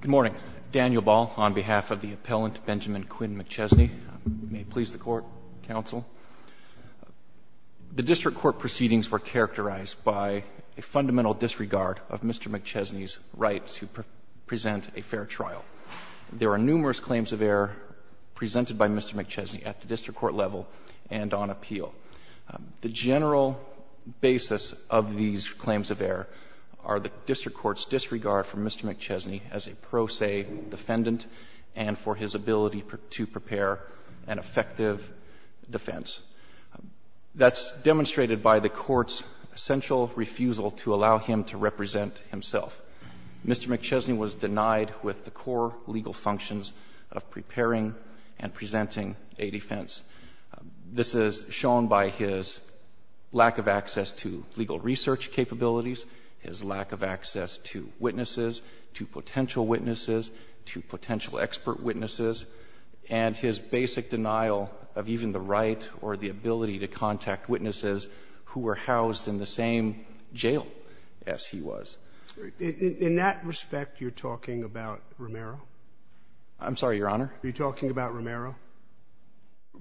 Good morning. Daniel Ball on behalf of the appellant Benjamin Quinn McChesney. May it please the court, counsel. The district court proceedings were characterized by a fundamental disregard of Mr. McChesney's right to present a fair trial. There are numerous claims of error presented by Mr. McChesney at the district court level and on appeal. The general basis of these claims of error are the district court's disregard for Mr. McChesney as a pro se defendant and for his ability to prepare an effective defense. That's demonstrated by the court's essential refusal to allow him to represent himself. Mr. McChesney was denied with the core legal functions of preparing and presenting a defense. This is shown by his lack of access to legal research capabilities, his lack of access to witnesses, to potential witnesses, to potential expert witnesses, and his basic denial of even the right or the ability to contact witnesses who were housed in the same jail as he was. In that respect, you're talking about Romero? I'm sorry, Your Honor? Are you talking about Romero?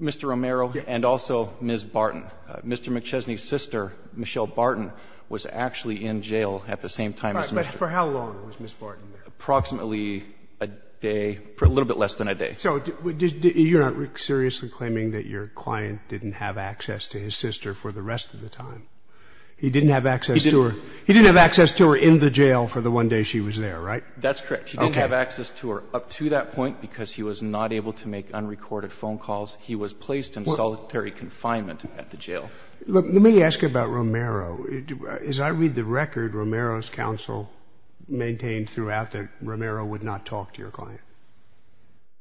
Mr. Romero and also Ms. Barton. Mr. McChesney's sister, Michelle Barton, was actually in jail at the same time as Mr. Romero. But for how long was Ms. Barton there? Approximately a day, a little bit less than a day. So you're not seriously claiming that your client didn't have access to his sister for the rest of the time? He didn't have access to her. He didn't have access to her in the jail for the one day she was there, right? That's correct. Okay. He didn't have access to her up to that point because he was not able to make unrecorded phone calls. He was placed in solitary confinement at the jail. Let me ask you about Romero. As I read the record, Romero's counsel maintained throughout that Romero would not talk to your client.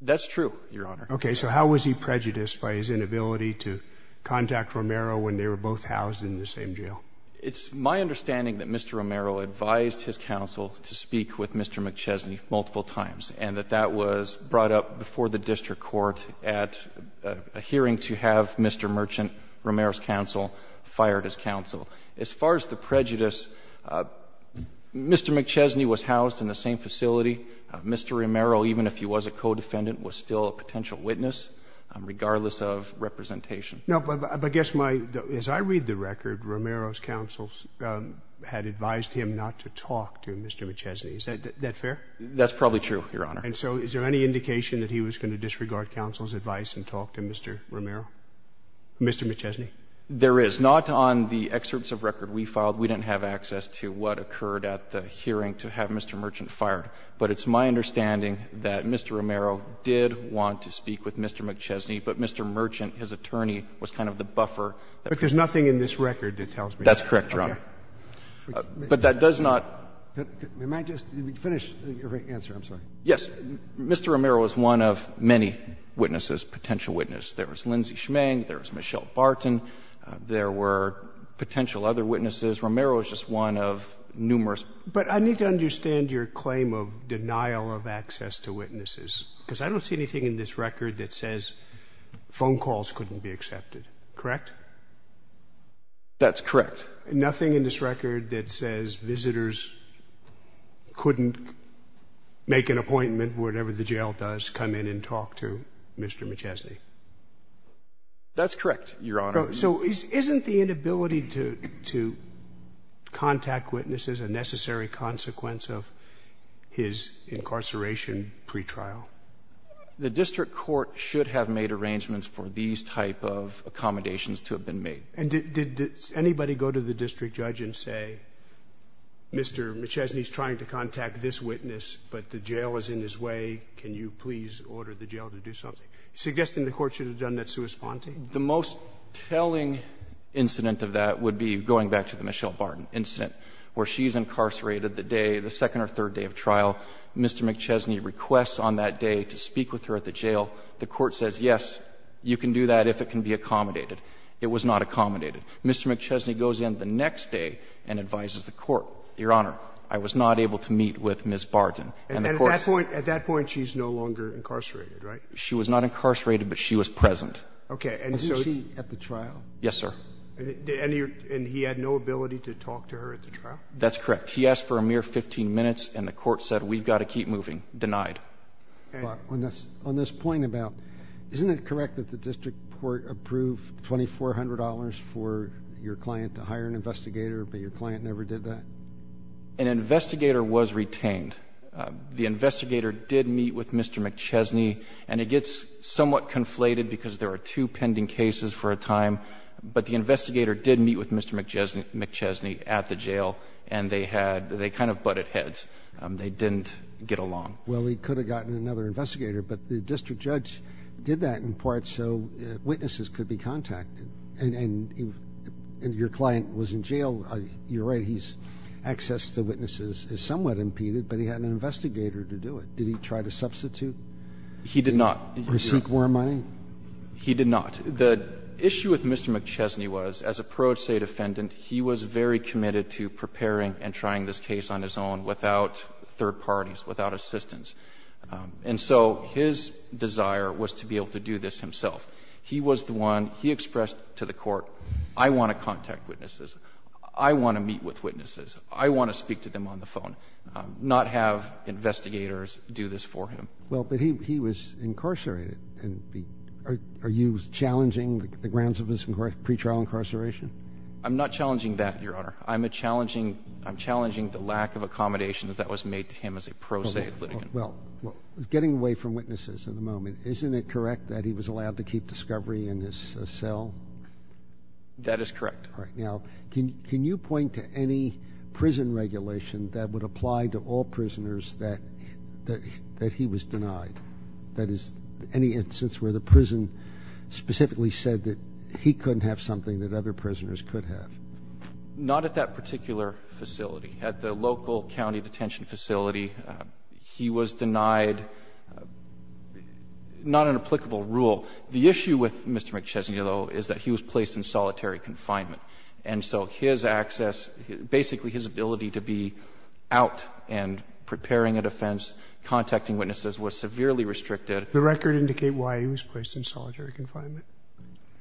That's true, Your Honor. Okay. So how was he prejudiced by his inability to contact Romero when they were both housed in the same jail? It's my understanding that Mr. Romero advised his counsel to speak with Mr. McChesney multiple times, and that that was brought up before the district court at a hearing to have Mr. Merchant, Romero's counsel, fired his counsel. As far as the prejudice, Mr. McChesney was housed in the same facility. Mr. Romero, even if he was a co-defendant, was still a potential witness, regardless of representation. No, but I guess my — as I read the record, Romero's counsel had advised him not to talk to Mr. McChesney. Is that fair? That's probably true, Your Honor. And so is there any indication that he was going to disregard counsel's advice and talk to Mr. Romero, Mr. McChesney? There is. Not on the excerpts of record we filed. We didn't have access to what occurred at the hearing to have Mr. Merchant fired. But it's my understanding that Mr. Romero did want to speak with Mr. McChesney, but Mr. Merchant, his attorney, was kind of the buffer. But there's nothing in this record that tells me that. That's correct, Your Honor. But that does not — Am I just — finish your answer, I'm sorry. Yes. Mr. Romero is one of many witnesses, potential witnesses. There was Lindsey Schmeng, there was Michelle Barton, there were potential other witnesses. Romero is just one of numerous. But I need to understand your claim of denial of access to witnesses, because I don't see anything in this record that says phone calls couldn't be accepted, correct? That's correct. But nothing in this record that says visitors couldn't make an appointment, whatever the jail does, come in and talk to Mr. McChesney? That's correct, Your Honor. So isn't the inability to contact witnesses a necessary consequence of his incarceration pretrial? The district court should have made arrangements for these type of accommodations to have been made. And did anybody go to the district judge and say, Mr. McChesney is trying to contact this witness, but the jail is in his way, can you please order the jail to do something? Suggesting the court should have done that sua sponte? The most telling incident of that would be going back to the Michelle Barton incident, where she's incarcerated the day, the second or third day of trial. Mr. McChesney requests on that day to speak with her at the jail. The court says, yes, you can do that if it can be accommodated. It was not accommodated. Mr. McChesney goes in the next day and advises the court, Your Honor, I was not able to meet with Ms. Barton. And the court says at that point she's no longer incarcerated, right? She was not incarcerated, but she was present. Okay. And so she at the trial? Yes, sir. And he had no ability to talk to her at the trial? That's correct. He asked for a mere 15 minutes, and the court said, we've got to keep moving. Denied. But on this point about, isn't it correct that the district court approved $2,400 for your client to hire an investigator, but your client never did that? An investigator was retained. The investigator did meet with Mr. McChesney, and it gets somewhat conflated because there are two pending cases for a time, but the investigator did meet with Mr. McChesney at the jail, and they kind of butted heads. They didn't get along. Well, he could have gotten another investigator, but the district judge did that in part so witnesses could be contacted. And your client was in jail. You're right. He's access to witnesses is somewhat impeded, but he had an investigator to do it. Did he try to substitute? He did not. Or seek more money? He did not. The issue with Mr. McChesney was, as a pro state defendant, he was very committed to preparing and trying this case on his own without third parties, without assistants. And so his desire was to be able to do this himself. He was the one. He expressed to the court, I want to contact witnesses. I want to meet with witnesses. I want to speak to them on the phone, not have investigators do this for him. Well, but he was incarcerated. Are you challenging the grounds of his pretrial incarceration? I'm not challenging that, Your Honor. I'm challenging the lack of accommodations that was made to him as a pro state defendant. Well, getting away from witnesses at the moment, isn't it correct that he was allowed to keep discovery in his cell? That is correct. All right. Now, can you point to any prison regulation that would apply to all prisoners that he was denied? That is, any instance where the prison specifically said that he couldn't have something that other prisoners could have? Not at that particular facility. At the local county detention facility, he was denied not an applicable rule. The issue with Mr. McChesney, though, is that he was placed in solitary confinement. And so his access, basically his ability to be out and preparing a defense, contacting witnesses, was severely restricted. The record indicate why he was placed in solitary confinement?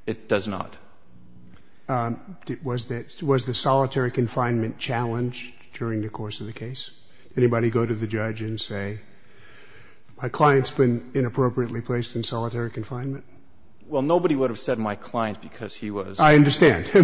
It does not. Was the solitary confinement challenged? During the course of the case? Did anybody go to the judge and say, my client's been inappropriately placed in solitary confinement? Well, nobody would have said my client because he was. I understand. So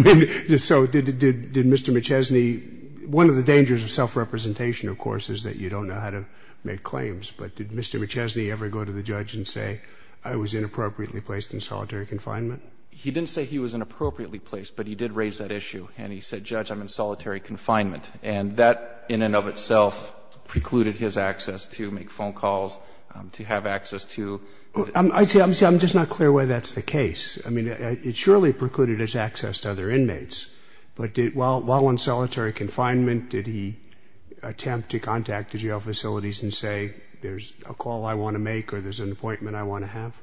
did Mr. McChesney, one of the dangers of self-representation, of course, is that you don't know how to make claims. But did Mr. McChesney ever go to the judge and say, I was inappropriately placed in solitary confinement? He didn't say he was inappropriately placed, but he did raise that issue. And he said, Judge, I'm in solitary confinement. And that, in and of itself, precluded his access to make phone calls, to have access to the court. I'm just not clear why that's the case. I mean, it surely precluded his access to other inmates. But while in solitary confinement, did he attempt to contact the jail facilities and say, there's a call I want to make or there's an appointment I want to have?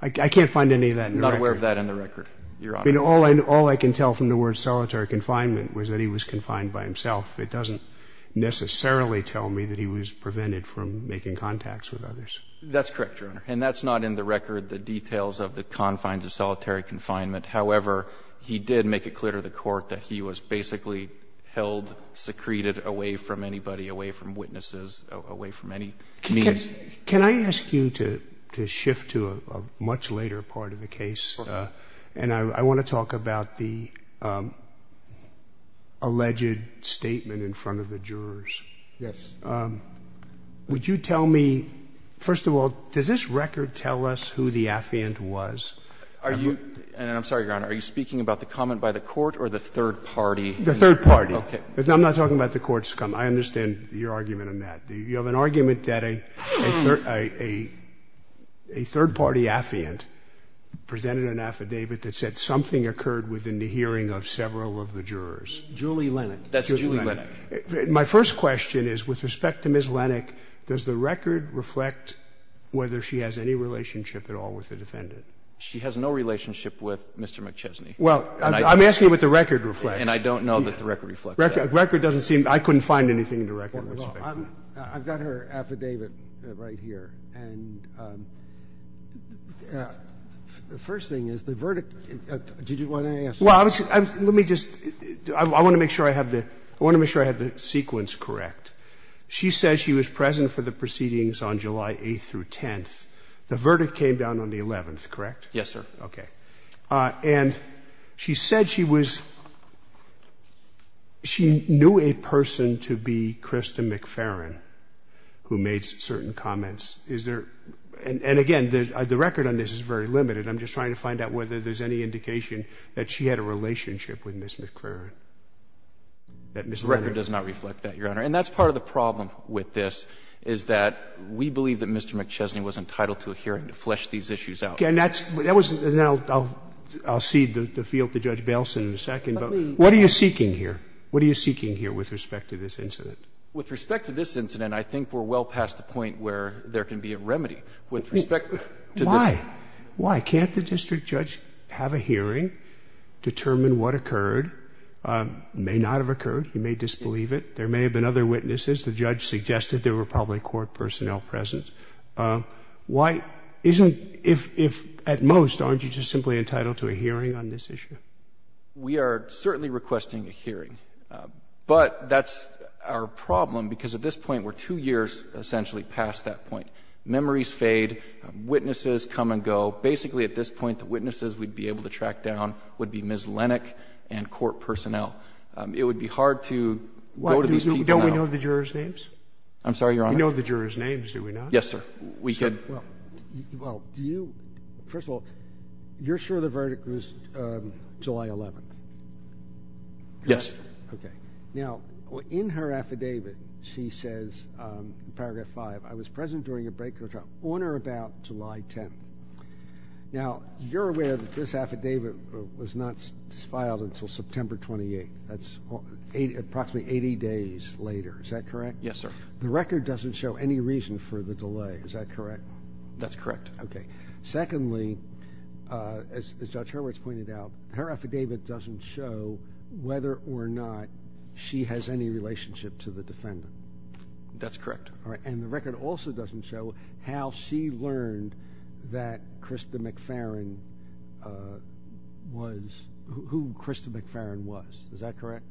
I can't find any of that in the record. I'm not aware of that in the record, Your Honor. I mean, all I can tell from the word solitary confinement was that he was confined by himself. It doesn't necessarily tell me that he was prevented from making contacts with others. That's correct, Your Honor. And that's not in the record, the details of the confines of solitary confinement. However, he did make it clear to the court that he was basically held, secreted away from anybody, away from witnesses, away from any means. Can I ask you to shift to a much later part of the case? And I want to talk about the alleged statement in front of the jurors. Yes. Would you tell me, first of all, does this record tell us who the affiant was? Are you – and I'm sorry, Your Honor. Are you speaking about the comment by the court or the third party? The third party. Okay. I'm not talking about the court's comment. I understand your argument on that. You have an argument that a third party affiant presented an affidavit that said something occurred within the hearing of several of the jurors. Julie Lennick. That's Julie Lennick. My first question is, with respect to Ms. Lennick, does the record reflect whether she has any relationship at all with the defendant? She has no relationship with Mr. McChesney. Well, I'm asking what the record reflects. And I don't know that the record reflects that. Record doesn't seem – I couldn't find anything in the record with respect to that. I've got her affidavit right here. And the first thing is, the verdict – did you want to answer that? Well, let me just – I want to make sure I have the – I want to make sure I have the sequence correct. She says she was present for the proceedings on July 8th through 10th. The verdict came down on the 11th, correct? Yes, sir. Okay. And she said she was – she knew a person to be Krista McFerrin, who made certain comments. Is there – and again, the record on this is very limited. I'm just trying to find out whether there's any indication that she had a relationship with Ms. McFerrin, that Ms. Lennick – The record does not reflect that, Your Honor. And that's part of the problem with this, is that we believe that Mr. McChesney was entitled to a hearing to flesh these issues out. Okay. And that's – that was – and I'll cede the field to Judge Bailson in a second. But what are you seeking here? What are you seeking here with respect to this incident? With respect to this incident, I think we're well past the point where there can be a remedy. With respect to this – Why? Why? Can't the district judge have a hearing, determine what occurred? It may not have occurred. He may disbelieve it. There may have been other witnesses. The judge suggested there were probably court personnel present. Why isn't – if, at most, aren't you just simply entitled to a hearing on this issue? We are certainly requesting a hearing. But that's our problem, because at this point, we're two years, essentially, past that point. Memories fade. Witnesses come and go. Basically, at this point, the witnesses we'd be able to track down would be Ms. Lennick and court personnel. It would be hard to go to these people now. Don't we know the jurors' names? I'm sorry, Your Honor? We know the jurors' names, do we not? Yes, sir. We could. Well, do you – first of all, you're sure the verdict was July 11th? Yes. Okay. Now, in her affidavit, she says, in paragraph 5, I was present during a break or trial on or about July 10th. Now, you're aware that this affidavit was not filed until September 28th. That's approximately 80 days later. Is that correct? Yes, sir. The record doesn't show any reason for the delay. Is that correct? That's correct. Okay. Secondly, as Judge Hurwitz pointed out, her affidavit doesn't show whether or not she has any relationship to the defendant. That's correct. All right. And the record also doesn't show how she learned that Krista McFerrin was – who Krista McFerrin was. Is that correct?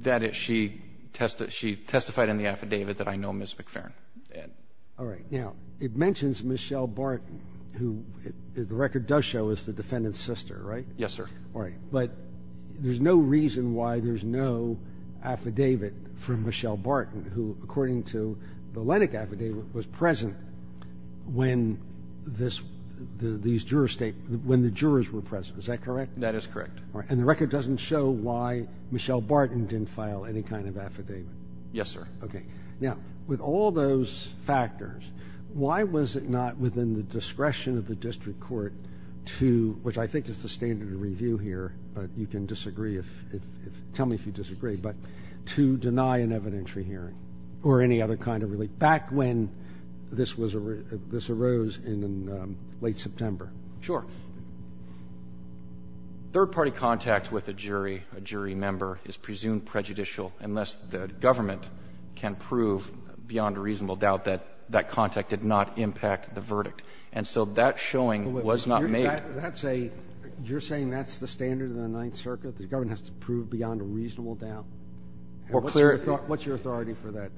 That she testified in the affidavit that I know Ms. McFerrin. All right. Now, it mentions Michelle Barton, who the record does show is the defendant's sister, right? Yes, sir. All right. But there's no reason why there's no affidavit for Michelle Barton, who, according to the Lennox affidavit, was present when this – these jurors – when the jurors were present. Is that correct? That is correct. And the record doesn't show why Michelle Barton didn't file any kind of affidavit? Yes, sir. Okay. Now, with all those factors, why was it not within the discretion of the district court to – which I think is the standard of review here, but you can disagree if – tell me if you disagree – but to deny an evidentiary hearing or any other kind of relief back when this was – this arose in late September? Sure. Third-party contact with a jury, a jury member, is presumed prejudicial unless the government can prove beyond a reasonable doubt that that contact did not impact the verdict. And so that showing was not made. That's a – you're saying that's the standard in the Ninth Circuit? The government has to prove beyond a reasonable doubt? Or clearly – What's your authority for that?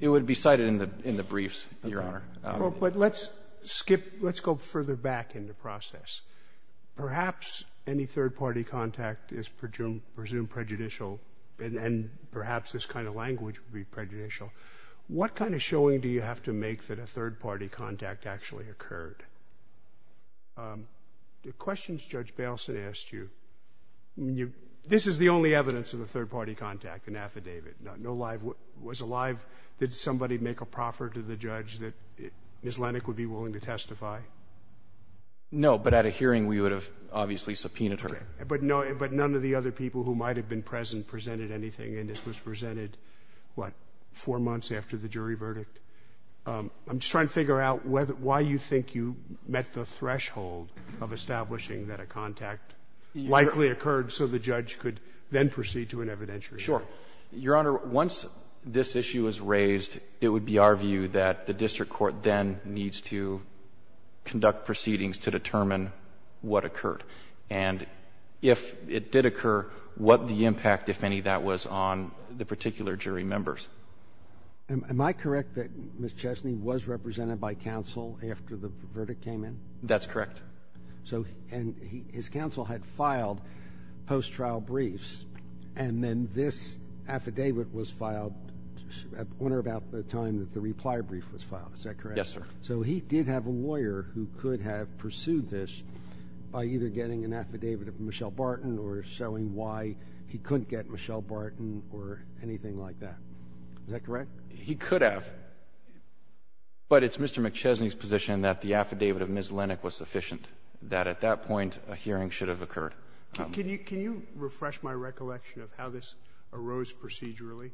It would be cited in the briefs, Your Honor. But let's skip – let's go further back in the process. Perhaps any third-party contact is presumed prejudicial, and perhaps this kind of language would be prejudicial. What kind of showing do you have to make that a third-party contact actually occurred? The questions Judge Baleson asked you – this is the only evidence of a third-party contact, an affidavit. No live – was a live – did somebody make a proffer to the judge that Ms. Lenach would be willing to testify? No, but at a hearing, we would have obviously subpoenaed her. Okay. But none of the other people who might have been present presented anything, and this was presented, what, four months after the jury verdict? I'm just trying to figure out why you think you met the threshold of establishing that a contact likely occurred so the judge could then proceed to an evidentiary hearing. Sure. Your Honor, once this issue is raised, it would be our view that the district court then needs to conduct proceedings to determine what occurred. And if it did occur, what the impact, if any, that was on the particular jury members. Am I correct that Ms. Chesney was represented by counsel after the verdict came in? That's correct. So – and his counsel had filed post-trial briefs, and then this affidavit was filed at one or about the time that the reply brief was filed. Is that correct? Yes, sir. So he did have a lawyer who could have pursued this by either getting an affidavit of Michelle Barton or showing why he couldn't get Michelle Barton or anything like that. Is that correct? He could have, but it's Mr. McChesney's position that the affidavit of Ms. Chesney was insufficient, that at that point a hearing should have occurred. Can you refresh my recollection of how this arose procedurally?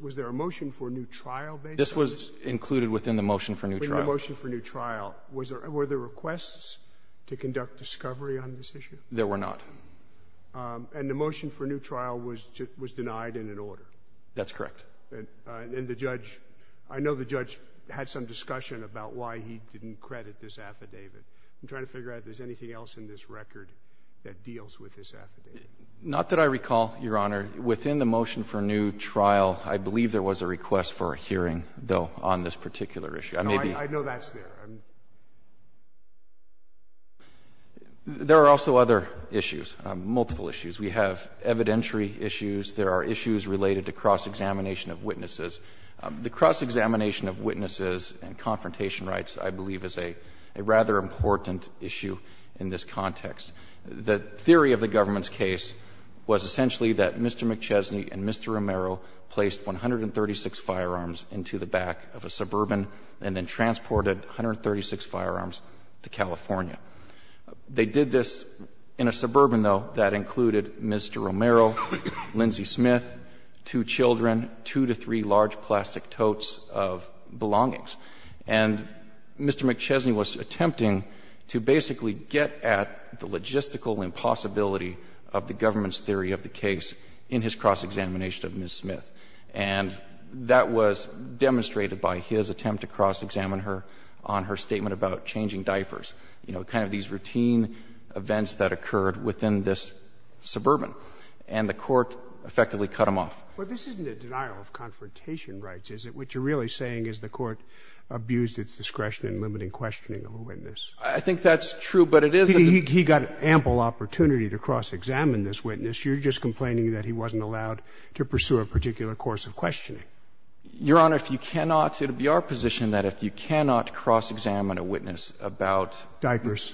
Was there a motion for a new trial based on this? This was included within the motion for a new trial. Within the motion for a new trial. Were there requests to conduct discovery on this issue? There were not. And the motion for a new trial was denied in an order? That's correct. And the judge – I know the judge had some discussion about why he didn't credit this affidavit. I'm trying to figure out if there's anything else in this record that deals with this affidavit. Not that I recall, Your Honor. Within the motion for a new trial, I believe there was a request for a hearing, though, on this particular issue. No, I know that's there. There are also other issues, multiple issues. We have evidentiary issues. There are issues related to cross-examination of witnesses. The cross-examination of witnesses and confrontation rights, I believe, is a rather important issue in this context. The theory of the government's case was essentially that Mr. McChesney and Mr. Romero placed 136 firearms into the back of a suburban and then transported 136 firearms to California. They did this in a suburban, though, that included Mr. Romero, Lindsay Smith, two children, two to three large plastic totes of belongings. And Mr. McChesney was attempting to basically get at the logistical impossibility of the government's theory of the case in his cross-examination of Ms. Smith. And that was demonstrated by his attempt to cross-examine her on her statement about changing diapers, you know, kind of these routine events that occurred within this suburban. And the Court effectively cut him off. But this isn't a denial of confrontation rights, is it? What you're really saying is the Court abused its discretion in limiting questioning of a witness. I think that's true, but it isn't. He got ample opportunity to cross-examine this witness. You're just complaining that he wasn't allowed to pursue a particular course of questioning. Your Honor, if you cannot, it would be our position that if you cannot cross-examine a witness about diapers,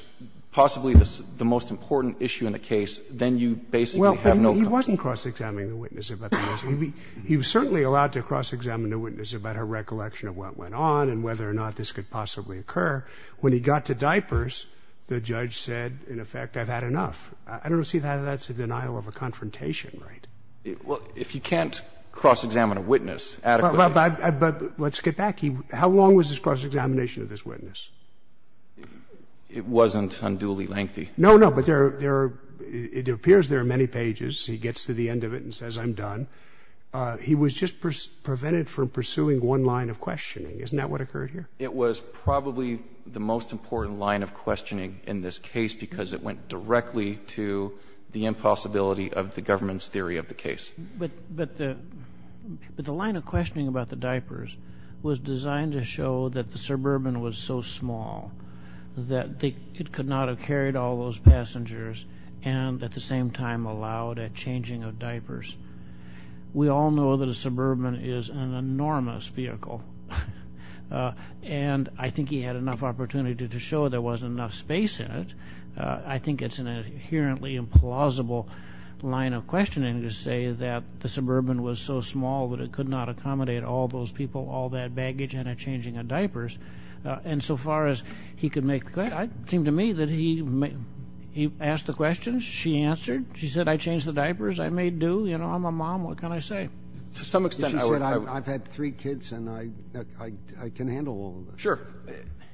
possibly the most important issue in the case, then you basically have no confidence. He wasn't cross-examining the witness about the most important issue. He was certainly allowed to cross-examine the witness about her recollection of what went on and whether or not this could possibly occur. When he got to diapers, the judge said, in effect, I've had enough. I don't see how that's a denial of a confrontation right. Well, if you can't cross-examine a witness adequately. But let's get back. How long was this cross-examination of this witness? It wasn't unduly lengthy. No, no. But there are, it appears there are many pages. He gets to the end of it and says, I'm done. He was just prevented from pursuing one line of questioning. Isn't that what occurred here? It was probably the most important line of questioning in this case because it went directly to the impossibility of the government's theory of the case. But the line of questioning about the diapers was designed to show that the suburban was so small that it could not have carried all those passengers and at the same time allowed a changing of diapers. We all know that a suburban is an enormous vehicle. And I think he had enough opportunity to show there wasn't enough space in it. I think it's an inherently implausible line of questioning to say that the suburban was so small that it could not accommodate all those people, all that baggage, and a changing of diapers. And so far as he could make that, it seemed to me that he asked the questions. She answered. She said, I changed the diapers. I made do. You know, I'm a mom. What can I say? To some extent, I would. If she said, I've had three kids and I can handle all of them. Sure.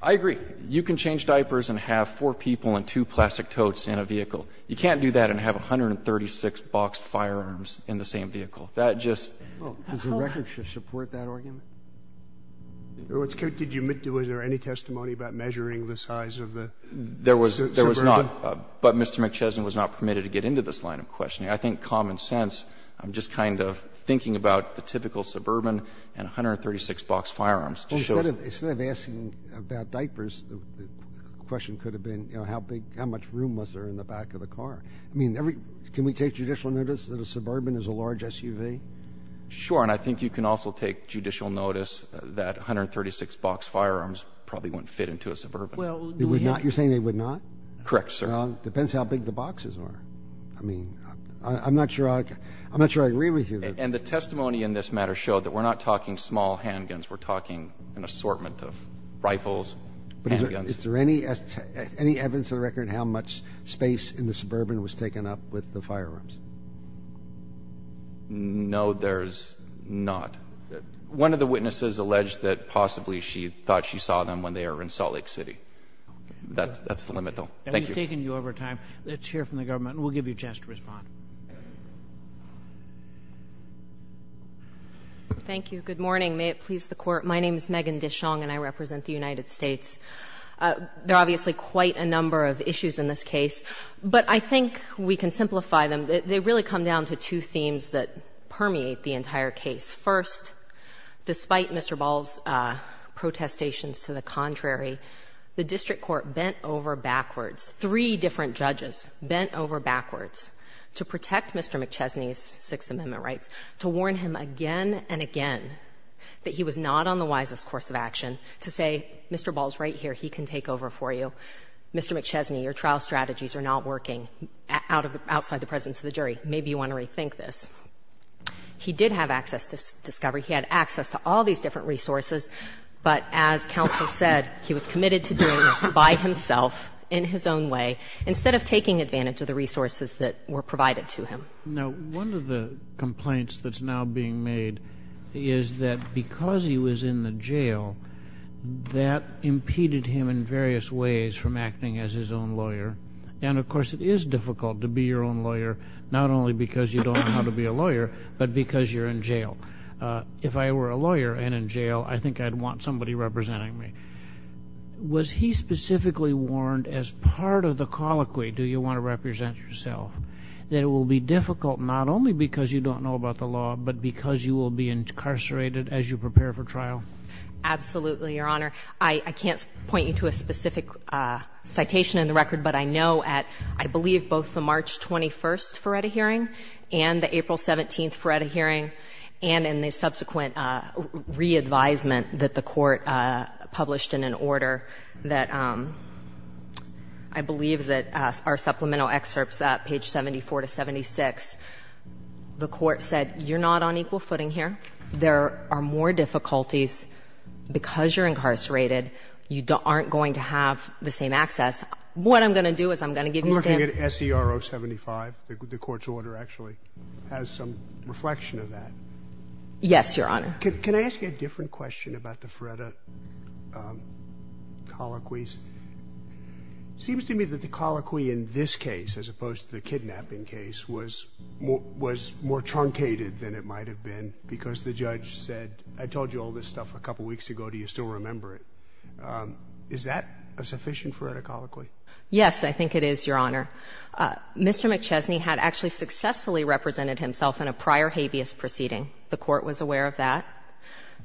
I agree. You can change diapers and have four people and two plastic totes in a vehicle. You can't do that and have 136 boxed firearms in the same vehicle. That just doesn't work. Does the record support that argument? Was there any testimony about measuring the size of the suburban? There was not, but Mr. McChesney was not permitted to get into this line of questioning. I think common sense, I'm just kind of thinking about the typical suburban and 136 boxed firearms. Well, instead of asking about diapers, the question could have been, you know, how big, how much room was there in the back of the car? I mean, can we take judicial notice that a suburban is a large SUV? Sure. And I think you can also take judicial notice that 136 boxed firearms probably wouldn't fit into a suburban. They would not? You're saying they would not? Correct, sir. Well, it depends how big the boxes are. I mean, I'm not sure I agree with you. And the testimony in this matter showed that we're not talking small handguns. We're talking an assortment of rifles, handguns. Is there any evidence of the record how much space in the suburban was taken up with the firearms? No, there's not. One of the witnesses alleged that possibly she thought she saw them when they were in Salt Lake City. That's the limit, though. Thank you. And we've taken you over time. Let's hear from the government, and we'll give you a chance to respond. Thank you. Good morning. May it please the Court. My name is Megan DeShong, and I represent the United States. There are obviously quite a number of issues in this case, but I think we can simplify them. They really come down to two themes that permeate the entire case. First, despite Mr. Ball's protestations to the contrary, the district court bent over backwards, three different judges bent over backwards to protect Mr. McChesney's Sixth Amendment rights, to warn him again and again that he was not on the wisest course of action to say, Mr. Ball's right here. He can take over for you. Mr. McChesney, your trial strategies are not working outside the presence of the jury. Maybe you want to rethink this. He did have access to discovery. He had access to all these different resources. But as counsel said, he was committed to doing this by himself, in his own way, instead of taking advantage of the resources that were provided to him. Now, one of the complaints that's now being made is that because he was in the jail, that impeded him in various ways from acting as his own lawyer. And of course, it is difficult to be your own lawyer, not only because you don't know how to be a lawyer, but because you're in jail. If I were a lawyer and in jail, I think I'd want somebody representing me. Was he specifically warned as part of the colloquy, do you want to represent yourself, that it will be difficult not only because you don't know about the law, but because you will be incarcerated as you prepare for trial? Absolutely, Your Honor. I can't point you to a specific citation in the record, but I know at, I believe, both the March 21st Feretta hearing, and the April 17th Feretta hearing, and in the subsequent re-advisement that the court published in an order that I believe that our supplemental excerpts at page 74 to 76, the court said, you're not on equal footing here. There are more difficulties because you're incarcerated. You aren't going to have the same access. What I'm going to do is I'm going to give you- I'm looking at SER 075, the court's order actually has some reflection of that. Yes, Your Honor. Can I ask you a different question about the Feretta colloquies? Seems to me that the colloquy in this case, as opposed to the kidnapping case, was more truncated than it might have been because the judge said, I told you all this stuff a couple weeks ago, do you still remember it? Is that a sufficient Feretta colloquy? Yes, I think it is, Your Honor. Mr. McChesney had actually successfully represented himself in a prior habeas proceeding, the court was aware of that.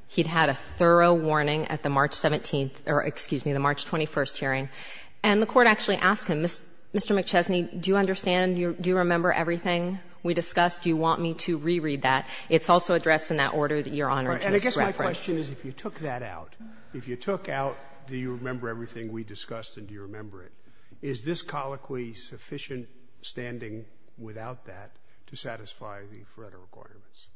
He'd had a thorough warning at the March 17th, or excuse me, the March 21st hearing. And the court actually asked him, Mr. McChesney, do you understand, do you remember everything we discussed? Do you want me to reread that? It's also addressed in that order that Your Honor just referenced. And I guess my question is, if you took that out, if you took out, do you remember everything we discussed and do you remember it? Is this colloquy sufficient standing without that to satisfy the Feretta requirements?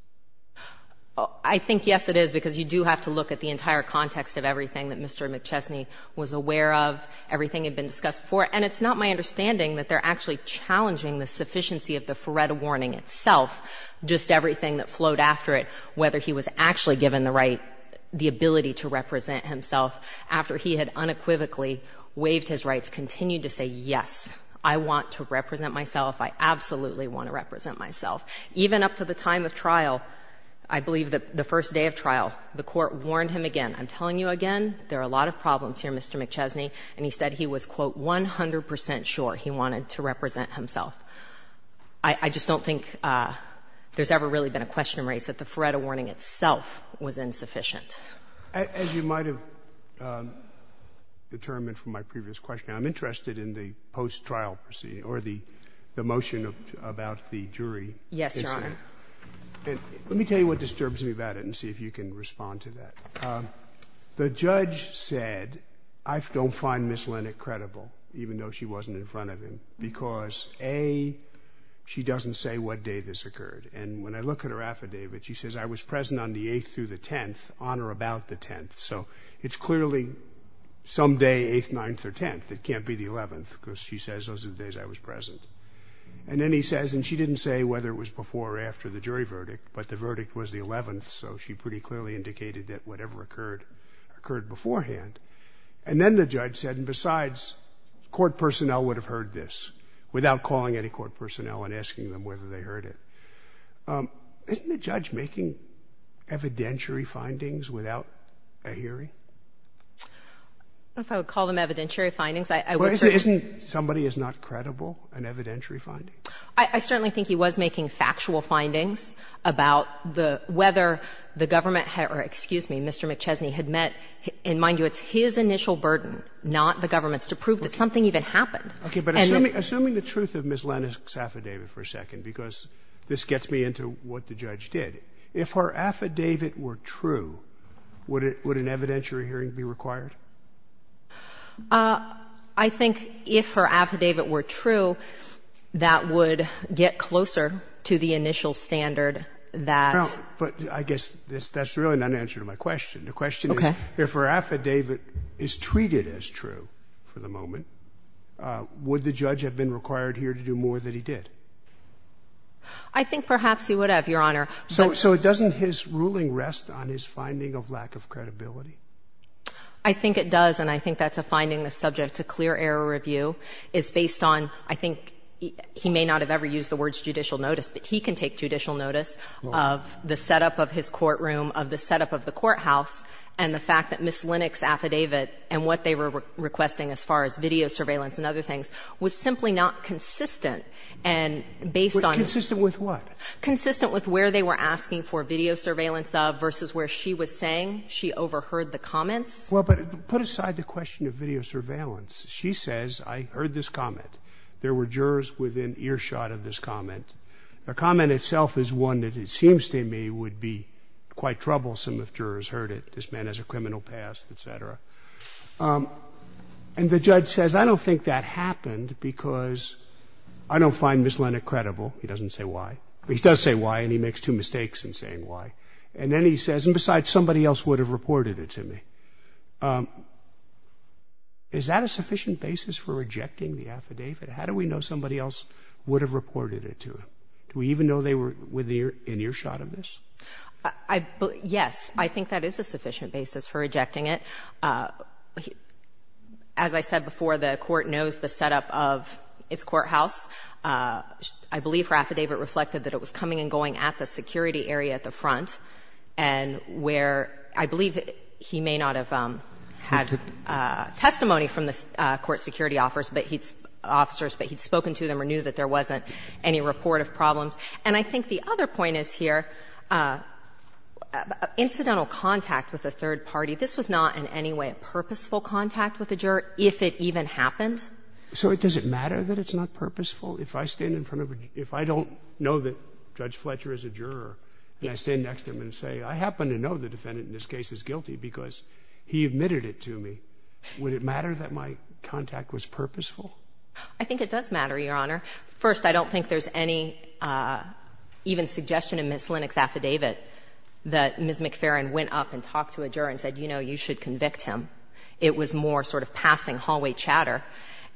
I think, yes, it is, because you do have to look at the entire context of everything that Mr. McChesney was aware of, everything had been discussed before. And it's not my understanding that they're actually challenging the sufficiency of the Feretta warning itself, just everything that flowed after it, whether he was actually given the right, the ability to represent himself after he had unequivocally waived his rights, continued to say, yes, I want to represent myself, I absolutely want to represent myself. Even up to the time of trial, I believe the first day of trial, the court warned him again. I'm telling you again, there are a lot of problems here, Mr. McChesney, and he said he was, quote, 100 percent sure he wanted to represent himself. I just don't think there's ever really been a question raised that the Feretta warning itself was insufficient. As you might have determined from my previous question, I'm interested in the post-trial proceeding or the motion about the jury. Yes, Your Honor. Let me tell you what disturbs me about it and see if you can respond to that. The judge said, I don't find Ms. Linick credible, even though she wasn't in front of him, because, A, she doesn't say what day this occurred. And when I look at her affidavit, she says, I was present on the 8th through the 10th, on or about the 10th. So it's clearly some day, 8th, 9th, or 10th. It can't be the 11th, because she says those are the days I was present. And then he says, and she didn't say whether it was before or after the jury verdict, but the verdict was the 11th. So she pretty clearly indicated that whatever occurred, occurred beforehand. And then the judge said, and besides, court personnel would have heard this, without calling any court personnel and asking them whether they heard it. Isn't the judge making evidentiary findings without a hearing? If I would call them evidentiary findings, I would say that. Isn't somebody who's not credible an evidentiary finding? I certainly think he was making factual findings about the – whether the government had – or, excuse me, Mr. McChesney had met – and mind you, it's his initial burden, not the government's, to prove that something even happened. And then the judge said, I was present on the 8th through the 10th, on or about the 10th, or 10th, or 11th, or 12th, or 13th, or 14th, or 15th, or 16th, or 17th, or 25th, or 26th, or 27th, or 28th, or 29th, or 29th, or 30th, or 30th, or 31st, or 30th, and so forth, that that would get closer to the initial standard that – But I guess that's really not an answer to my question. The question is if her affidavit is treated as true, for the moment, would the judge have been required here to do more than he did? I think perhaps he would have, Your Honor, but – So doesn't his ruling rest on his finding of lack of credibility? I think it does, and I think that's a finding that's subject to clear error review, is based on, I think, he may not have ever used the words judicial notice, but he can take judicial notice of the setup of his courtroom, of the setup of the courthouse, and the fact that Ms. Linnick's affidavit and what they were requesting as far as video surveillance and other things was simply not consistent, and based on – Consistent with what? Consistent with where they were asking for video surveillance of versus where she was saying she overheard the comments. Well, but put aside the question of video surveillance. She says, I heard this comment. There were jurors within earshot of this comment. The comment itself is one that it seems to me would be quite troublesome if jurors heard it. This man has a criminal past, et cetera. And the judge says, I don't think that happened because I don't find Ms. Linnick credible. He doesn't say why, but he does say why, and he makes two mistakes in saying why. And then he says, and besides, somebody else would have reported it to me. Is that a sufficient basis for rejecting the affidavit? How do we know somebody else would have reported it to him? Do we even know they were within earshot of this? I – yes. I think that is a sufficient basis for rejecting it. As I said before, the Court knows the setup of its courthouse. I believe her affidavit reflected that it was coming and going at the security area at the front, and where I believe he may not have had testimony from the court security officers, but he'd spoken to them or knew that there wasn't any report of problems. And I think the other point is here, incidental contact with a third party, this was not in any way a purposeful contact with a juror, if it even happened. So does it matter that it's not purposeful? If I stand in front of a – if I don't know that Judge Fletcher is a juror and I stand next to him and say, I happen to know the defendant in this case is guilty because he admitted it to me, would it matter that my contact was purposeful? I think it does matter, Your Honor. First, I don't think there's any even suggestion in Ms. Linnick's affidavit that Ms. McFerrin went up and talked to a juror and said, you know, you should convict him. It was more sort of passing hallway chatter.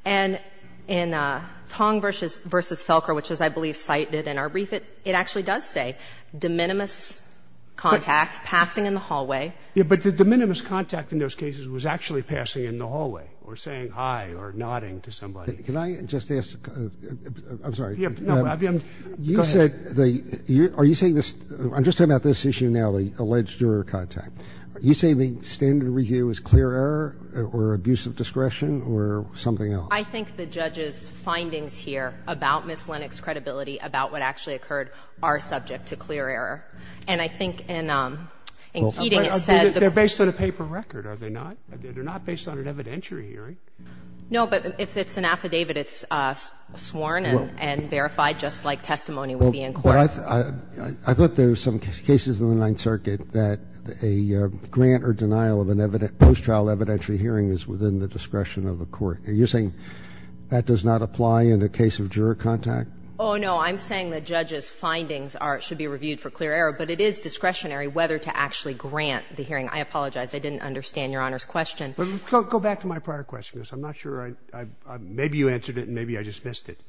And in Tong v. Felker, which is, I believe, cited in our brief, it actually does say, de minimis contact, passing in the hallway. But the de minimis contact in those cases was actually passing in the hallway or saying hi or nodding to somebody. Can I just ask – I'm sorry. You said the – are you saying this – I'm just talking about this issue now, the alleged juror contact. You say the standard review is clear error or abuse of discretion or something else? I think the judge's findings here about Ms. Linnick's credibility, about what actually occurred, are subject to clear error. And I think in Keating it said that the – They're based on a paper record, are they not? They're not based on an evidentiary hearing. No, but if it's an affidavit, it's sworn and verified just like testimony would be in court. I thought there were some cases in the Ninth Circuit that a grant or denial of a post-trial evidentiary hearing is within the discretion of the court. Are you saying that does not apply in a case of juror contact? Oh, no. I'm saying the judge's findings are – should be reviewed for clear error. But it is discretionary whether to actually grant the hearing. I apologize. I didn't understand Your Honor's question. Go back to my prior question, because I'm not sure I – maybe you answered it and maybe I just missed it.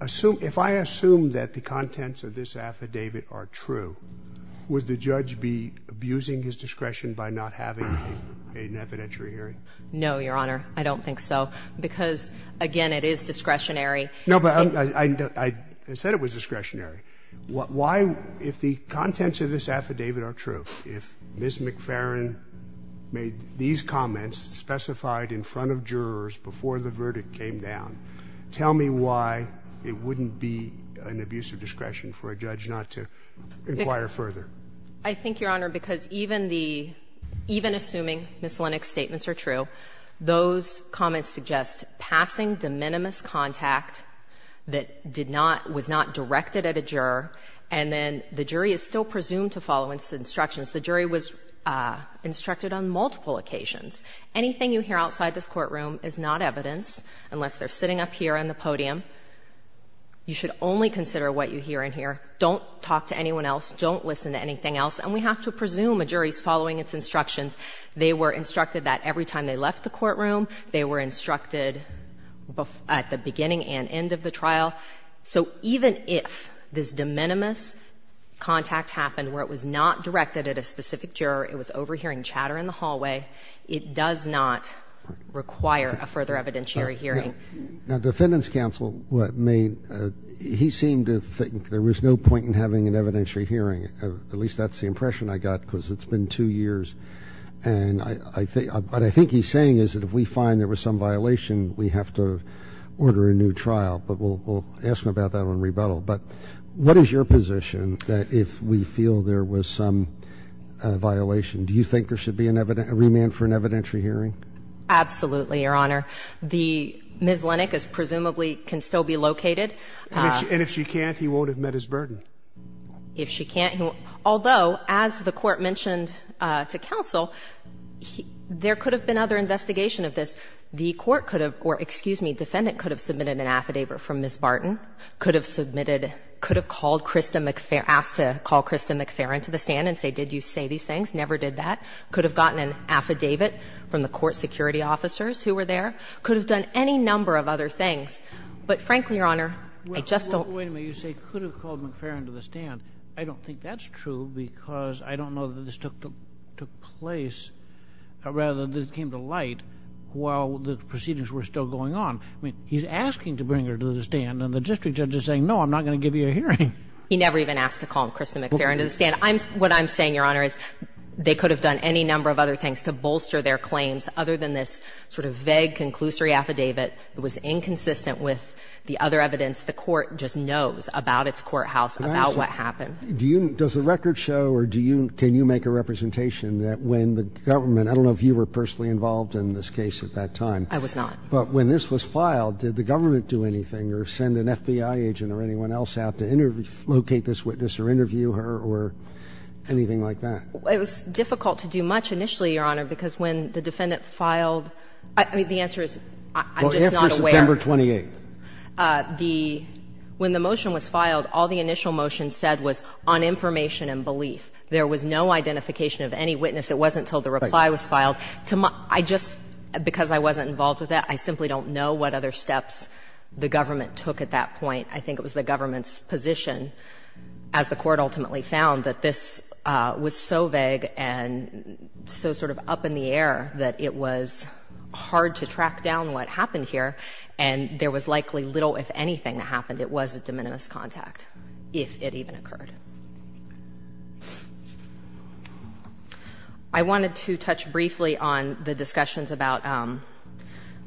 If I assume that the contents of this affidavit are true, would the judge be abusing his discretion by not having an evidentiary hearing? No, Your Honor. I don't think so, because, again, it is discretionary. No, but I said it was discretionary. Why, if the contents of this affidavit are true, if Ms. McFerrin made these comments specified in front of jurors before the verdict came down, tell me why it wouldn't be an abuse of discretion for a judge not to inquire further? I think, Your Honor, because even the – even assuming Ms. Lennox's statements are true, those comments suggest passing de minimis contact that did not – was not directed at a juror, and then the jury is still presumed to follow instructions. The jury was instructed on multiple occasions. Anything you hear outside this courtroom is not evidence, unless they're sitting up here on the podium. You should only consider what you hear in here. Don't talk to anyone else. Don't listen to anything else. And we have to presume a jury is following its instructions. They were instructed that every time they left the courtroom, they were instructed at the beginning and end of the trial. So even if this de minimis contact happened where it was not directed at a specific juror, it was overhearing chatter in the hallway, it does not require a further evidentiary hearing. Now, Defendant's counsel made – he seemed to think there was no point in having an evidentiary hearing. At least that's the impression I got, because it's been two years. And I think – what I think he's saying is that if we find there was some violation, we have to order a new trial. But we'll ask him about that on rebuttal. But what is your position that if we feel there was some violation, do you think there should be a remand for an evidentiary hearing? Absolutely, Your Honor. Ms. Lennick is presumably – can still be located. And if she can't, he won't admit his burden. If she can't – although, as the Court mentioned to counsel, there could have been other investigation of this. The Court could have – or, excuse me, Defendant could have submitted an affidavit from Ms. Barton, could have submitted – could have called Krista McFerrin – asked to call Krista McFerrin to the stand and say, did you say these things? Never did that. Could have gotten an affidavit from the court security officers who were there. Could have done any number of other things. But frankly, Your Honor, I just don't – Wait a minute. You say could have called McFerrin to the stand. I don't think that's true, because I don't know that this took place – rather that this came to light while the proceedings were still going on. I mean, he's asking to bring her to the stand, and the district judge is saying, no, I'm not going to give you a hearing. He never even asked to call Krista McFerrin to the stand. I'm – what I'm saying, Your Honor, is they could have done any number of other things to bolster their claims, other than this sort of vague conclusory affidavit that was inconsistent with the other evidence the Court just knows about its courthouse, about what happened. Do you – does the record show or do you – can you make a representation that when the government – I don't know if you were personally involved in this case at that time. I was not. But when this was filed, did the government do anything or send an FBI agent or anyone else out to interview – locate this witness or interview her or anything like that? It was difficult to do much initially, Your Honor, because when the defendant filed – I mean, the answer is, I'm just not aware. Well, after September 28th. The – when the motion was filed, all the initial motion said was on information and belief. There was no identification of any witness. It wasn't until the reply was filed to my – I just – because I wasn't involved with it, I simply don't know what other steps the government took at that point. I think it was the government's position, as the Court ultimately found, that this was so vague and so sort of up in the air that it was hard to track down what happened here, and there was likely little, if anything, that happened. It was a de minimis contact, if it even occurred. I wanted to touch briefly on the discussions about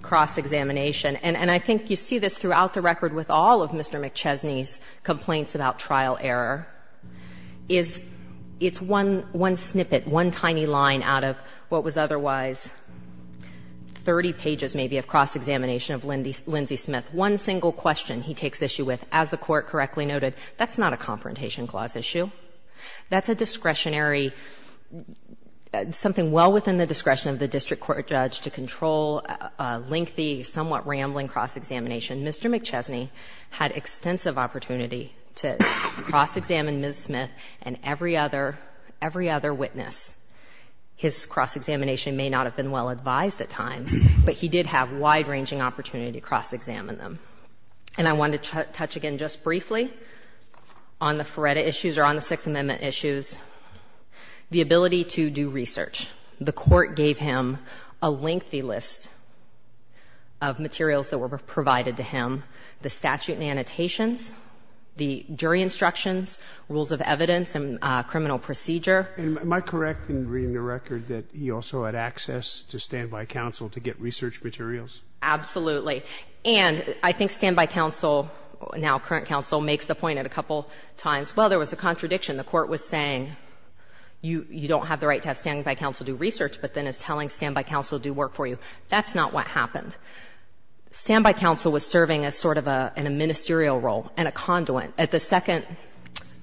cross-examination. And I think you see this throughout the record with all of Mr. McChesney's complaints about trial error, is it's one snippet, one tiny line out of what was otherwise 30 pages, maybe, of cross-examination of Lindsey Smith. One single question he takes issue with, as the Court correctly noted, that's not a Confrontation Clause issue. That's a discretionary – something well within the discretion of the district court judge to control a lengthy, somewhat rambling cross-examination. Mr. McChesney had extensive opportunity to cross-examine Ms. Smith and every other – every other witness. His cross-examination may not have been well advised at times, but he did have wide-ranging opportunity to cross-examine them. And I wanted to touch again just briefly on the Feretta issues or on the Sixth Amendment issues, the ability to do research. The Court gave him a lengthy list of materials that were provided to him, the statute and annotations, the jury instructions, rules of evidence and criminal procedure. Am I correct in reading the record that he also had access to stand-by counsel to get research materials? Absolutely. And I think stand-by counsel, now current counsel, makes the point a couple times, well, there was a contradiction. The Court was saying you don't have the right to have stand-by counsel do research, but then is telling stand-by counsel do work for you. That's not what happened. Stand-by counsel was serving as sort of a – in a ministerial role and a conduit. At the second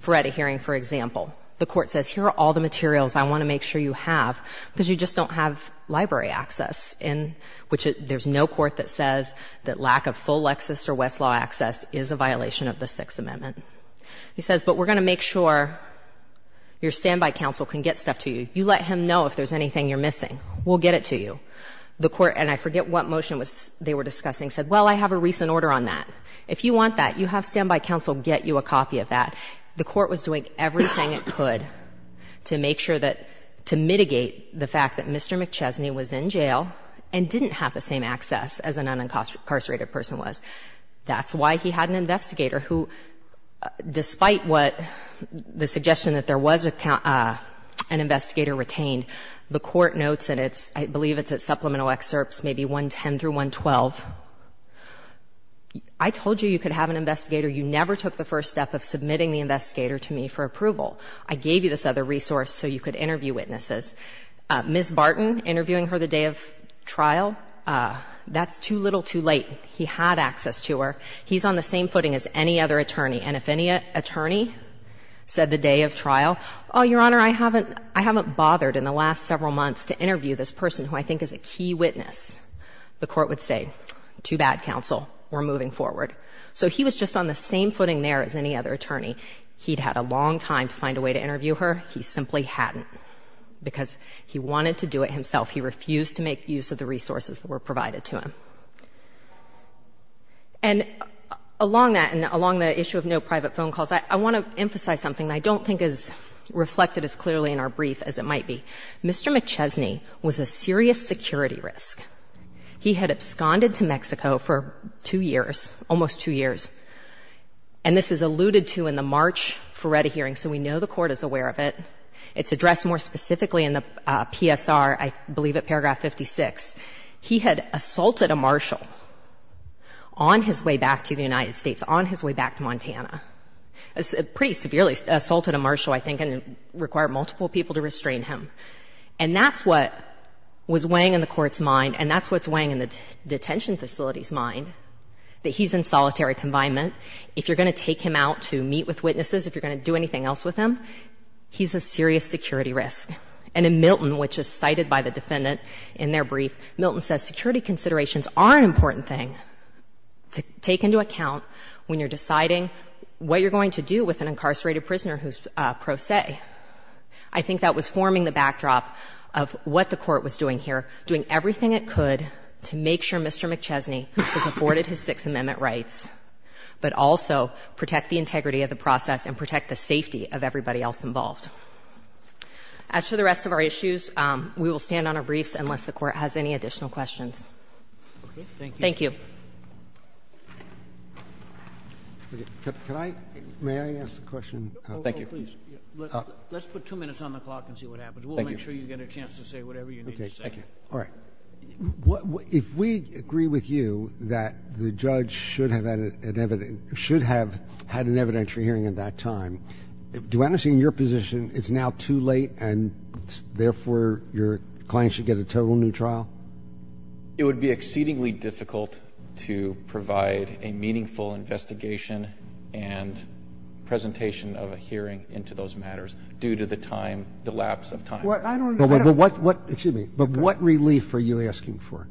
Feretta hearing, for example, the Court says, here are all the materials I want to make sure you have, because you just don't have library access, in which there's no court that says that lack of full Lexis or Westlaw access is a violation of the Sixth Amendment. He says, but we're going to make sure your stand-by counsel can get stuff to you. You let him know if there's anything you're missing. We'll get it to you. The Court – and I forget what motion they were discussing – said, well, I have a recent order on that. If you want that, you have stand-by counsel get you a copy of that. The Court was doing everything it could to make sure that – to mitigate the fact that Mr. McChesney was in jail and didn't have the same access as an unincarcerated person was. That's why he had an investigator who, despite what the suggestion that there was an investigator retained, the Court notes in its – I believe it's its supplemental excerpts, maybe 110 through 112, I told you you could have an investigator. You never took the first step of submitting the investigator to me for approval. I gave you this other resource so you could interview witnesses. Ms. Barton, interviewing her the day of trial, that's too little, too late. He had access to her. He's on the same footing as any other attorney. And if any attorney said the day of trial, oh, Your Honor, I haven't – I haven't bothered in the last several months to interview this person who I think is a key witness, the Court would say, too bad, counsel, we're moving forward. So he was just on the same footing there as any other attorney. He'd had a long time to find a way to interview her. He simply hadn't, because he wanted to do it himself. He refused to make use of the resources that were provided to him. And along that, and along the issue of no private phone calls, I want to emphasize something I don't think is reflected as clearly in our brief as it might be. Mr. McChesney was a serious security risk. He had absconded to Mexico for two years, almost two years. And this is alluded to in the March Ferretti hearing, so we know the Court is aware of it. It's addressed more specifically in the PSR, I believe, at paragraph 56. He had assaulted a marshal on his way back to the United States, on his way back to Montana. Pretty severely assaulted a marshal, I think, and required multiple people to restrain him. And that's what was weighing in the Court's mind, and that's what's weighing in the detention facility's mind, that he's in solitary confinement. If you're going to take him out to meet with witnesses, if you're going to do anything else with him, he's a serious security risk. And in Milton, which is cited by the defendant in their brief, Milton says security considerations are an important thing to take into account when you're deciding what you're going to do with an incarcerated prisoner who's pro se. I think that was forming the backdrop of what the Court was doing here, doing everything it could to make sure Mr. McChesney was afforded his Sixth Amendment rights, but also protect the integrity of the process and protect the safety of everybody else involved. As for the rest of our issues, we will stand on our briefs unless the Court has any additional questions. Thank you. May I ask a question? Thank you. Let's put two minutes on the clock and see what happens. We'll make sure you get a chance to say whatever you need to say. All right. If we agree with you that the judge should have had an evidentiary hearing at that time, do I understand your position, it's now too late and therefore your client should get a total new trial? It would be exceedingly difficult to provide a meaningful investigation and presentation of a hearing into those matters due to the time, the lapse of time. But what relief are you asking for?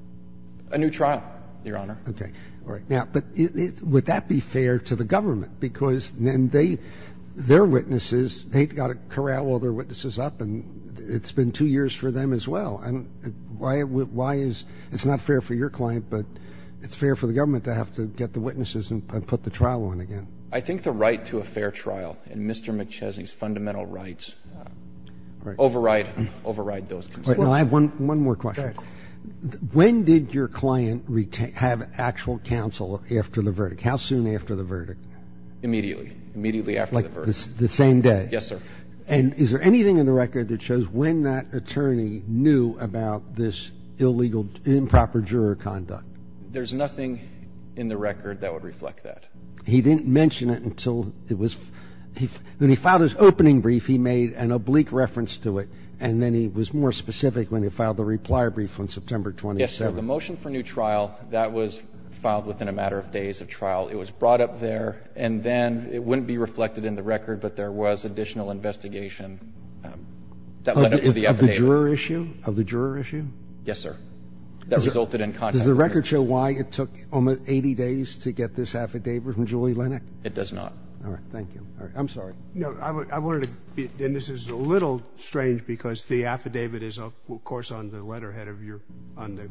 A new trial, Your Honor. Would that be fair to the government? Because their witnesses, they've got to corral all their witnesses up and it's been two years for them as well. It's not fair for your client, but it's fair for the government to have to get the witnesses and put the trial on again. I think the right to a fair trial and Mr. McChesney's fundamental rights override those concerns. I have one more question. When did your client have actual counsel after the verdict? How soon after the verdict? Immediately. Immediately after the verdict. Like the same day? Yes, sir. And is there anything in the record that shows when that attorney knew about this illegal improper juror conduct? There's nothing in the record that would reflect that. He didn't mention it until it was, when he filed his opening brief, he made an oblique reference to it and then he was more specific when he filed the reply brief on September 27th. Yes, sir. The motion for new trial, that was filed within a matter of days of trial. It was brought up there and then it wouldn't be reflected in the record, but there was additional investigation that led up to the affidavit. Of the juror issue? Of the juror issue? Yes, sir. That resulted in contact. Does the record show why it took almost 80 days to get this affidavit from Julie Lenach? It does not. All right. Thank you. All right. I'm sorry. No, I wanted to, and this is a little strange because the affidavit is, of course, on the letterhead of your, on the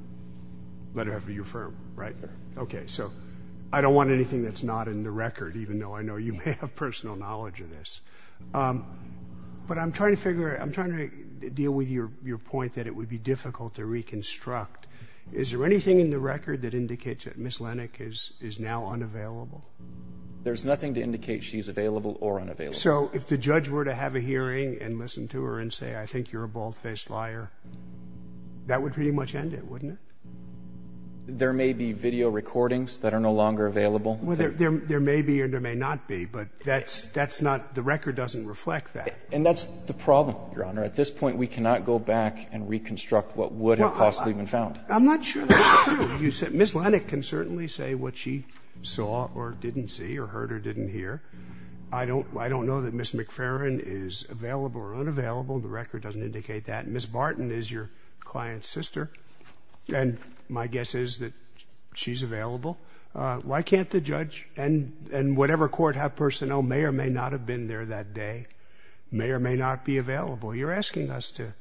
letterhead of your firm, right? Okay. So I don't want anything that's not in the record, even though I know you may have personal knowledge of this. But I'm trying to figure, I'm trying to deal with your point that it would be difficult to reconstruct. Is there anything in the record that indicates that Miss Lenach is now unavailable? There's nothing to indicate she's available or unavailable. So if the judge were to have a hearing and listen to her and say, I think you're a bald-faced liar, that would pretty much end it, wouldn't it? There may be video recordings that are no longer available. Well, there may be or there may not be, but that's, that's not, the record doesn't reflect that. And that's the problem, Your Honor. At this point, we cannot go back and reconstruct what would have possibly been found. I'm not sure that's true. You said Miss Lenach can certainly say what she saw or didn't see or heard or didn't hear. I don't, I don't know that Miss McFerrin is available or unavailable. The record doesn't indicate that. Miss Barton is your client's sister. And my guess is that she's available. Why can't the judge and, and whatever court have personnel may or may not have been there that day, may or may not be available. You're asking us to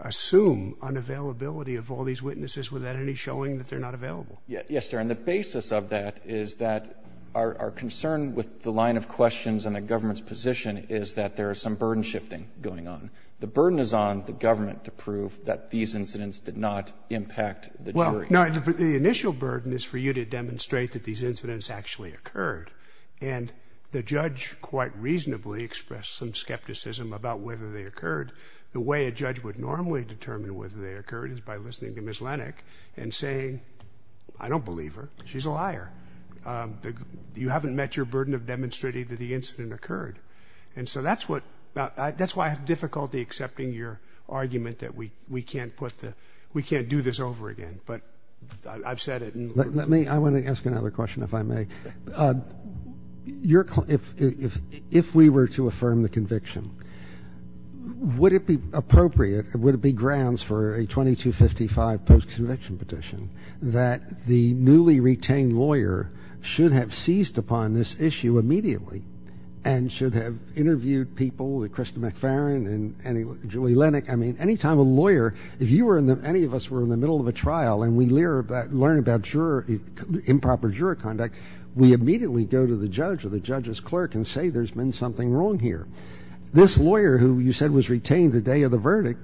assume unavailability of all these witnesses without any showing that they're not available. Yes, sir. And the basis of that is that our, our concern with the line of questions and the government's position is that there is some burden shifting going on. The burden is on the government to prove that these incidents did not impact the jury. Well, no. The initial burden is for you to demonstrate that these incidents actually occurred. And the judge quite reasonably expressed some skepticism about whether they occurred. The way a judge would normally determine whether they occurred is by listening to Miss Lenach and saying, I don't believe her. She's a liar. You haven't met your burden of demonstrating that the incident occurred. And so that's what, that's why I have difficulty accepting your argument that we, we can't put the, we can't do this over again. But I've said it. Let me, I want to ask another question if I may. Your, if, if, if we were to affirm the conviction, would it be appropriate, would it be grounds for a 2255 post-conviction petition that the newly retained lawyer should have seized upon this issue immediately and should have interviewed people, Krista McFerrin and Julie Lenach. I mean, any time a lawyer, if you were in the, any of us were in the middle of a trial and we learn about, learn about juror, improper juror conduct, we immediately go to the judge or the judge's clerk and say there's been something wrong here. This lawyer who you said was retained the day of the verdict,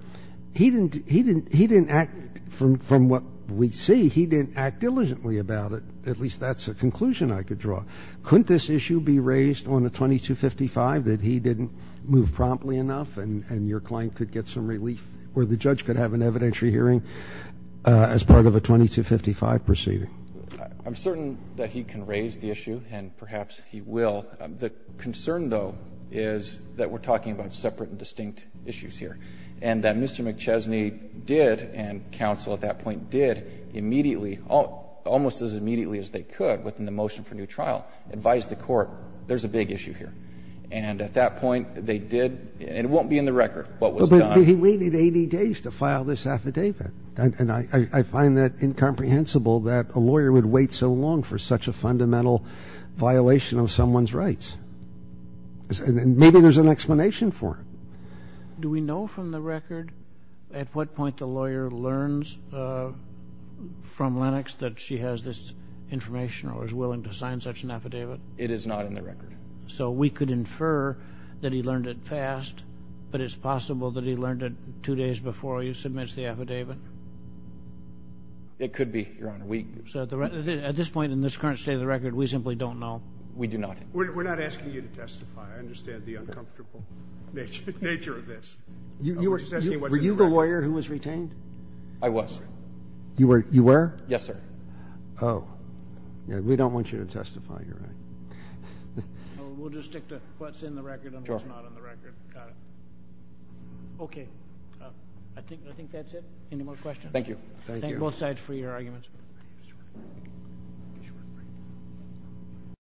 he didn't, he didn't, he didn't act from, from what we see. He didn't act diligently about it. At least that's a conclusion I could draw. Couldn't this issue be raised on a 2255 that he didn't move promptly enough and, and your client could get some relief or the judge could have an evidentiary hearing as part of a 2255 proceeding? I'm certain that he can raise the issue and perhaps he will. The concern, though, is that we're talking about separate and distinct issues here. And that Mr. McChesney did and counsel at that point did immediately, almost as immediately as they could within the motion for new trial, advise the court there's a big issue here. And at that point they did, and it won't be in the record what was done. He waited 80 days to file this affidavit. And I, I find that incomprehensible that a lawyer would wait so long for such a fundamental violation of someone's rights. And maybe there's an explanation for it. Do we know from the record at what point the lawyer learns from Lennox that she has this information or is willing to sign such an affidavit? It is not in the record. So we could infer that he learned it fast, but it's possible that he learned it two days before he submits the affidavit? It could be, Your Honor. We... So at this point, in this current state of the record, we simply don't know. We do not. We're not asking you to testify. I understand the uncomfortable nature of this. You were just asking what's in the record. Were you the lawyer who was retained? I was. You were? Yes, sir. Oh. We don't want you to testify, Your Honor. We'll just stick to what's in the record and what's not in the record. Got it. Okay. I think, I think that's it. Any more questions? Thank you. Thank you. Thank both sides for your arguments.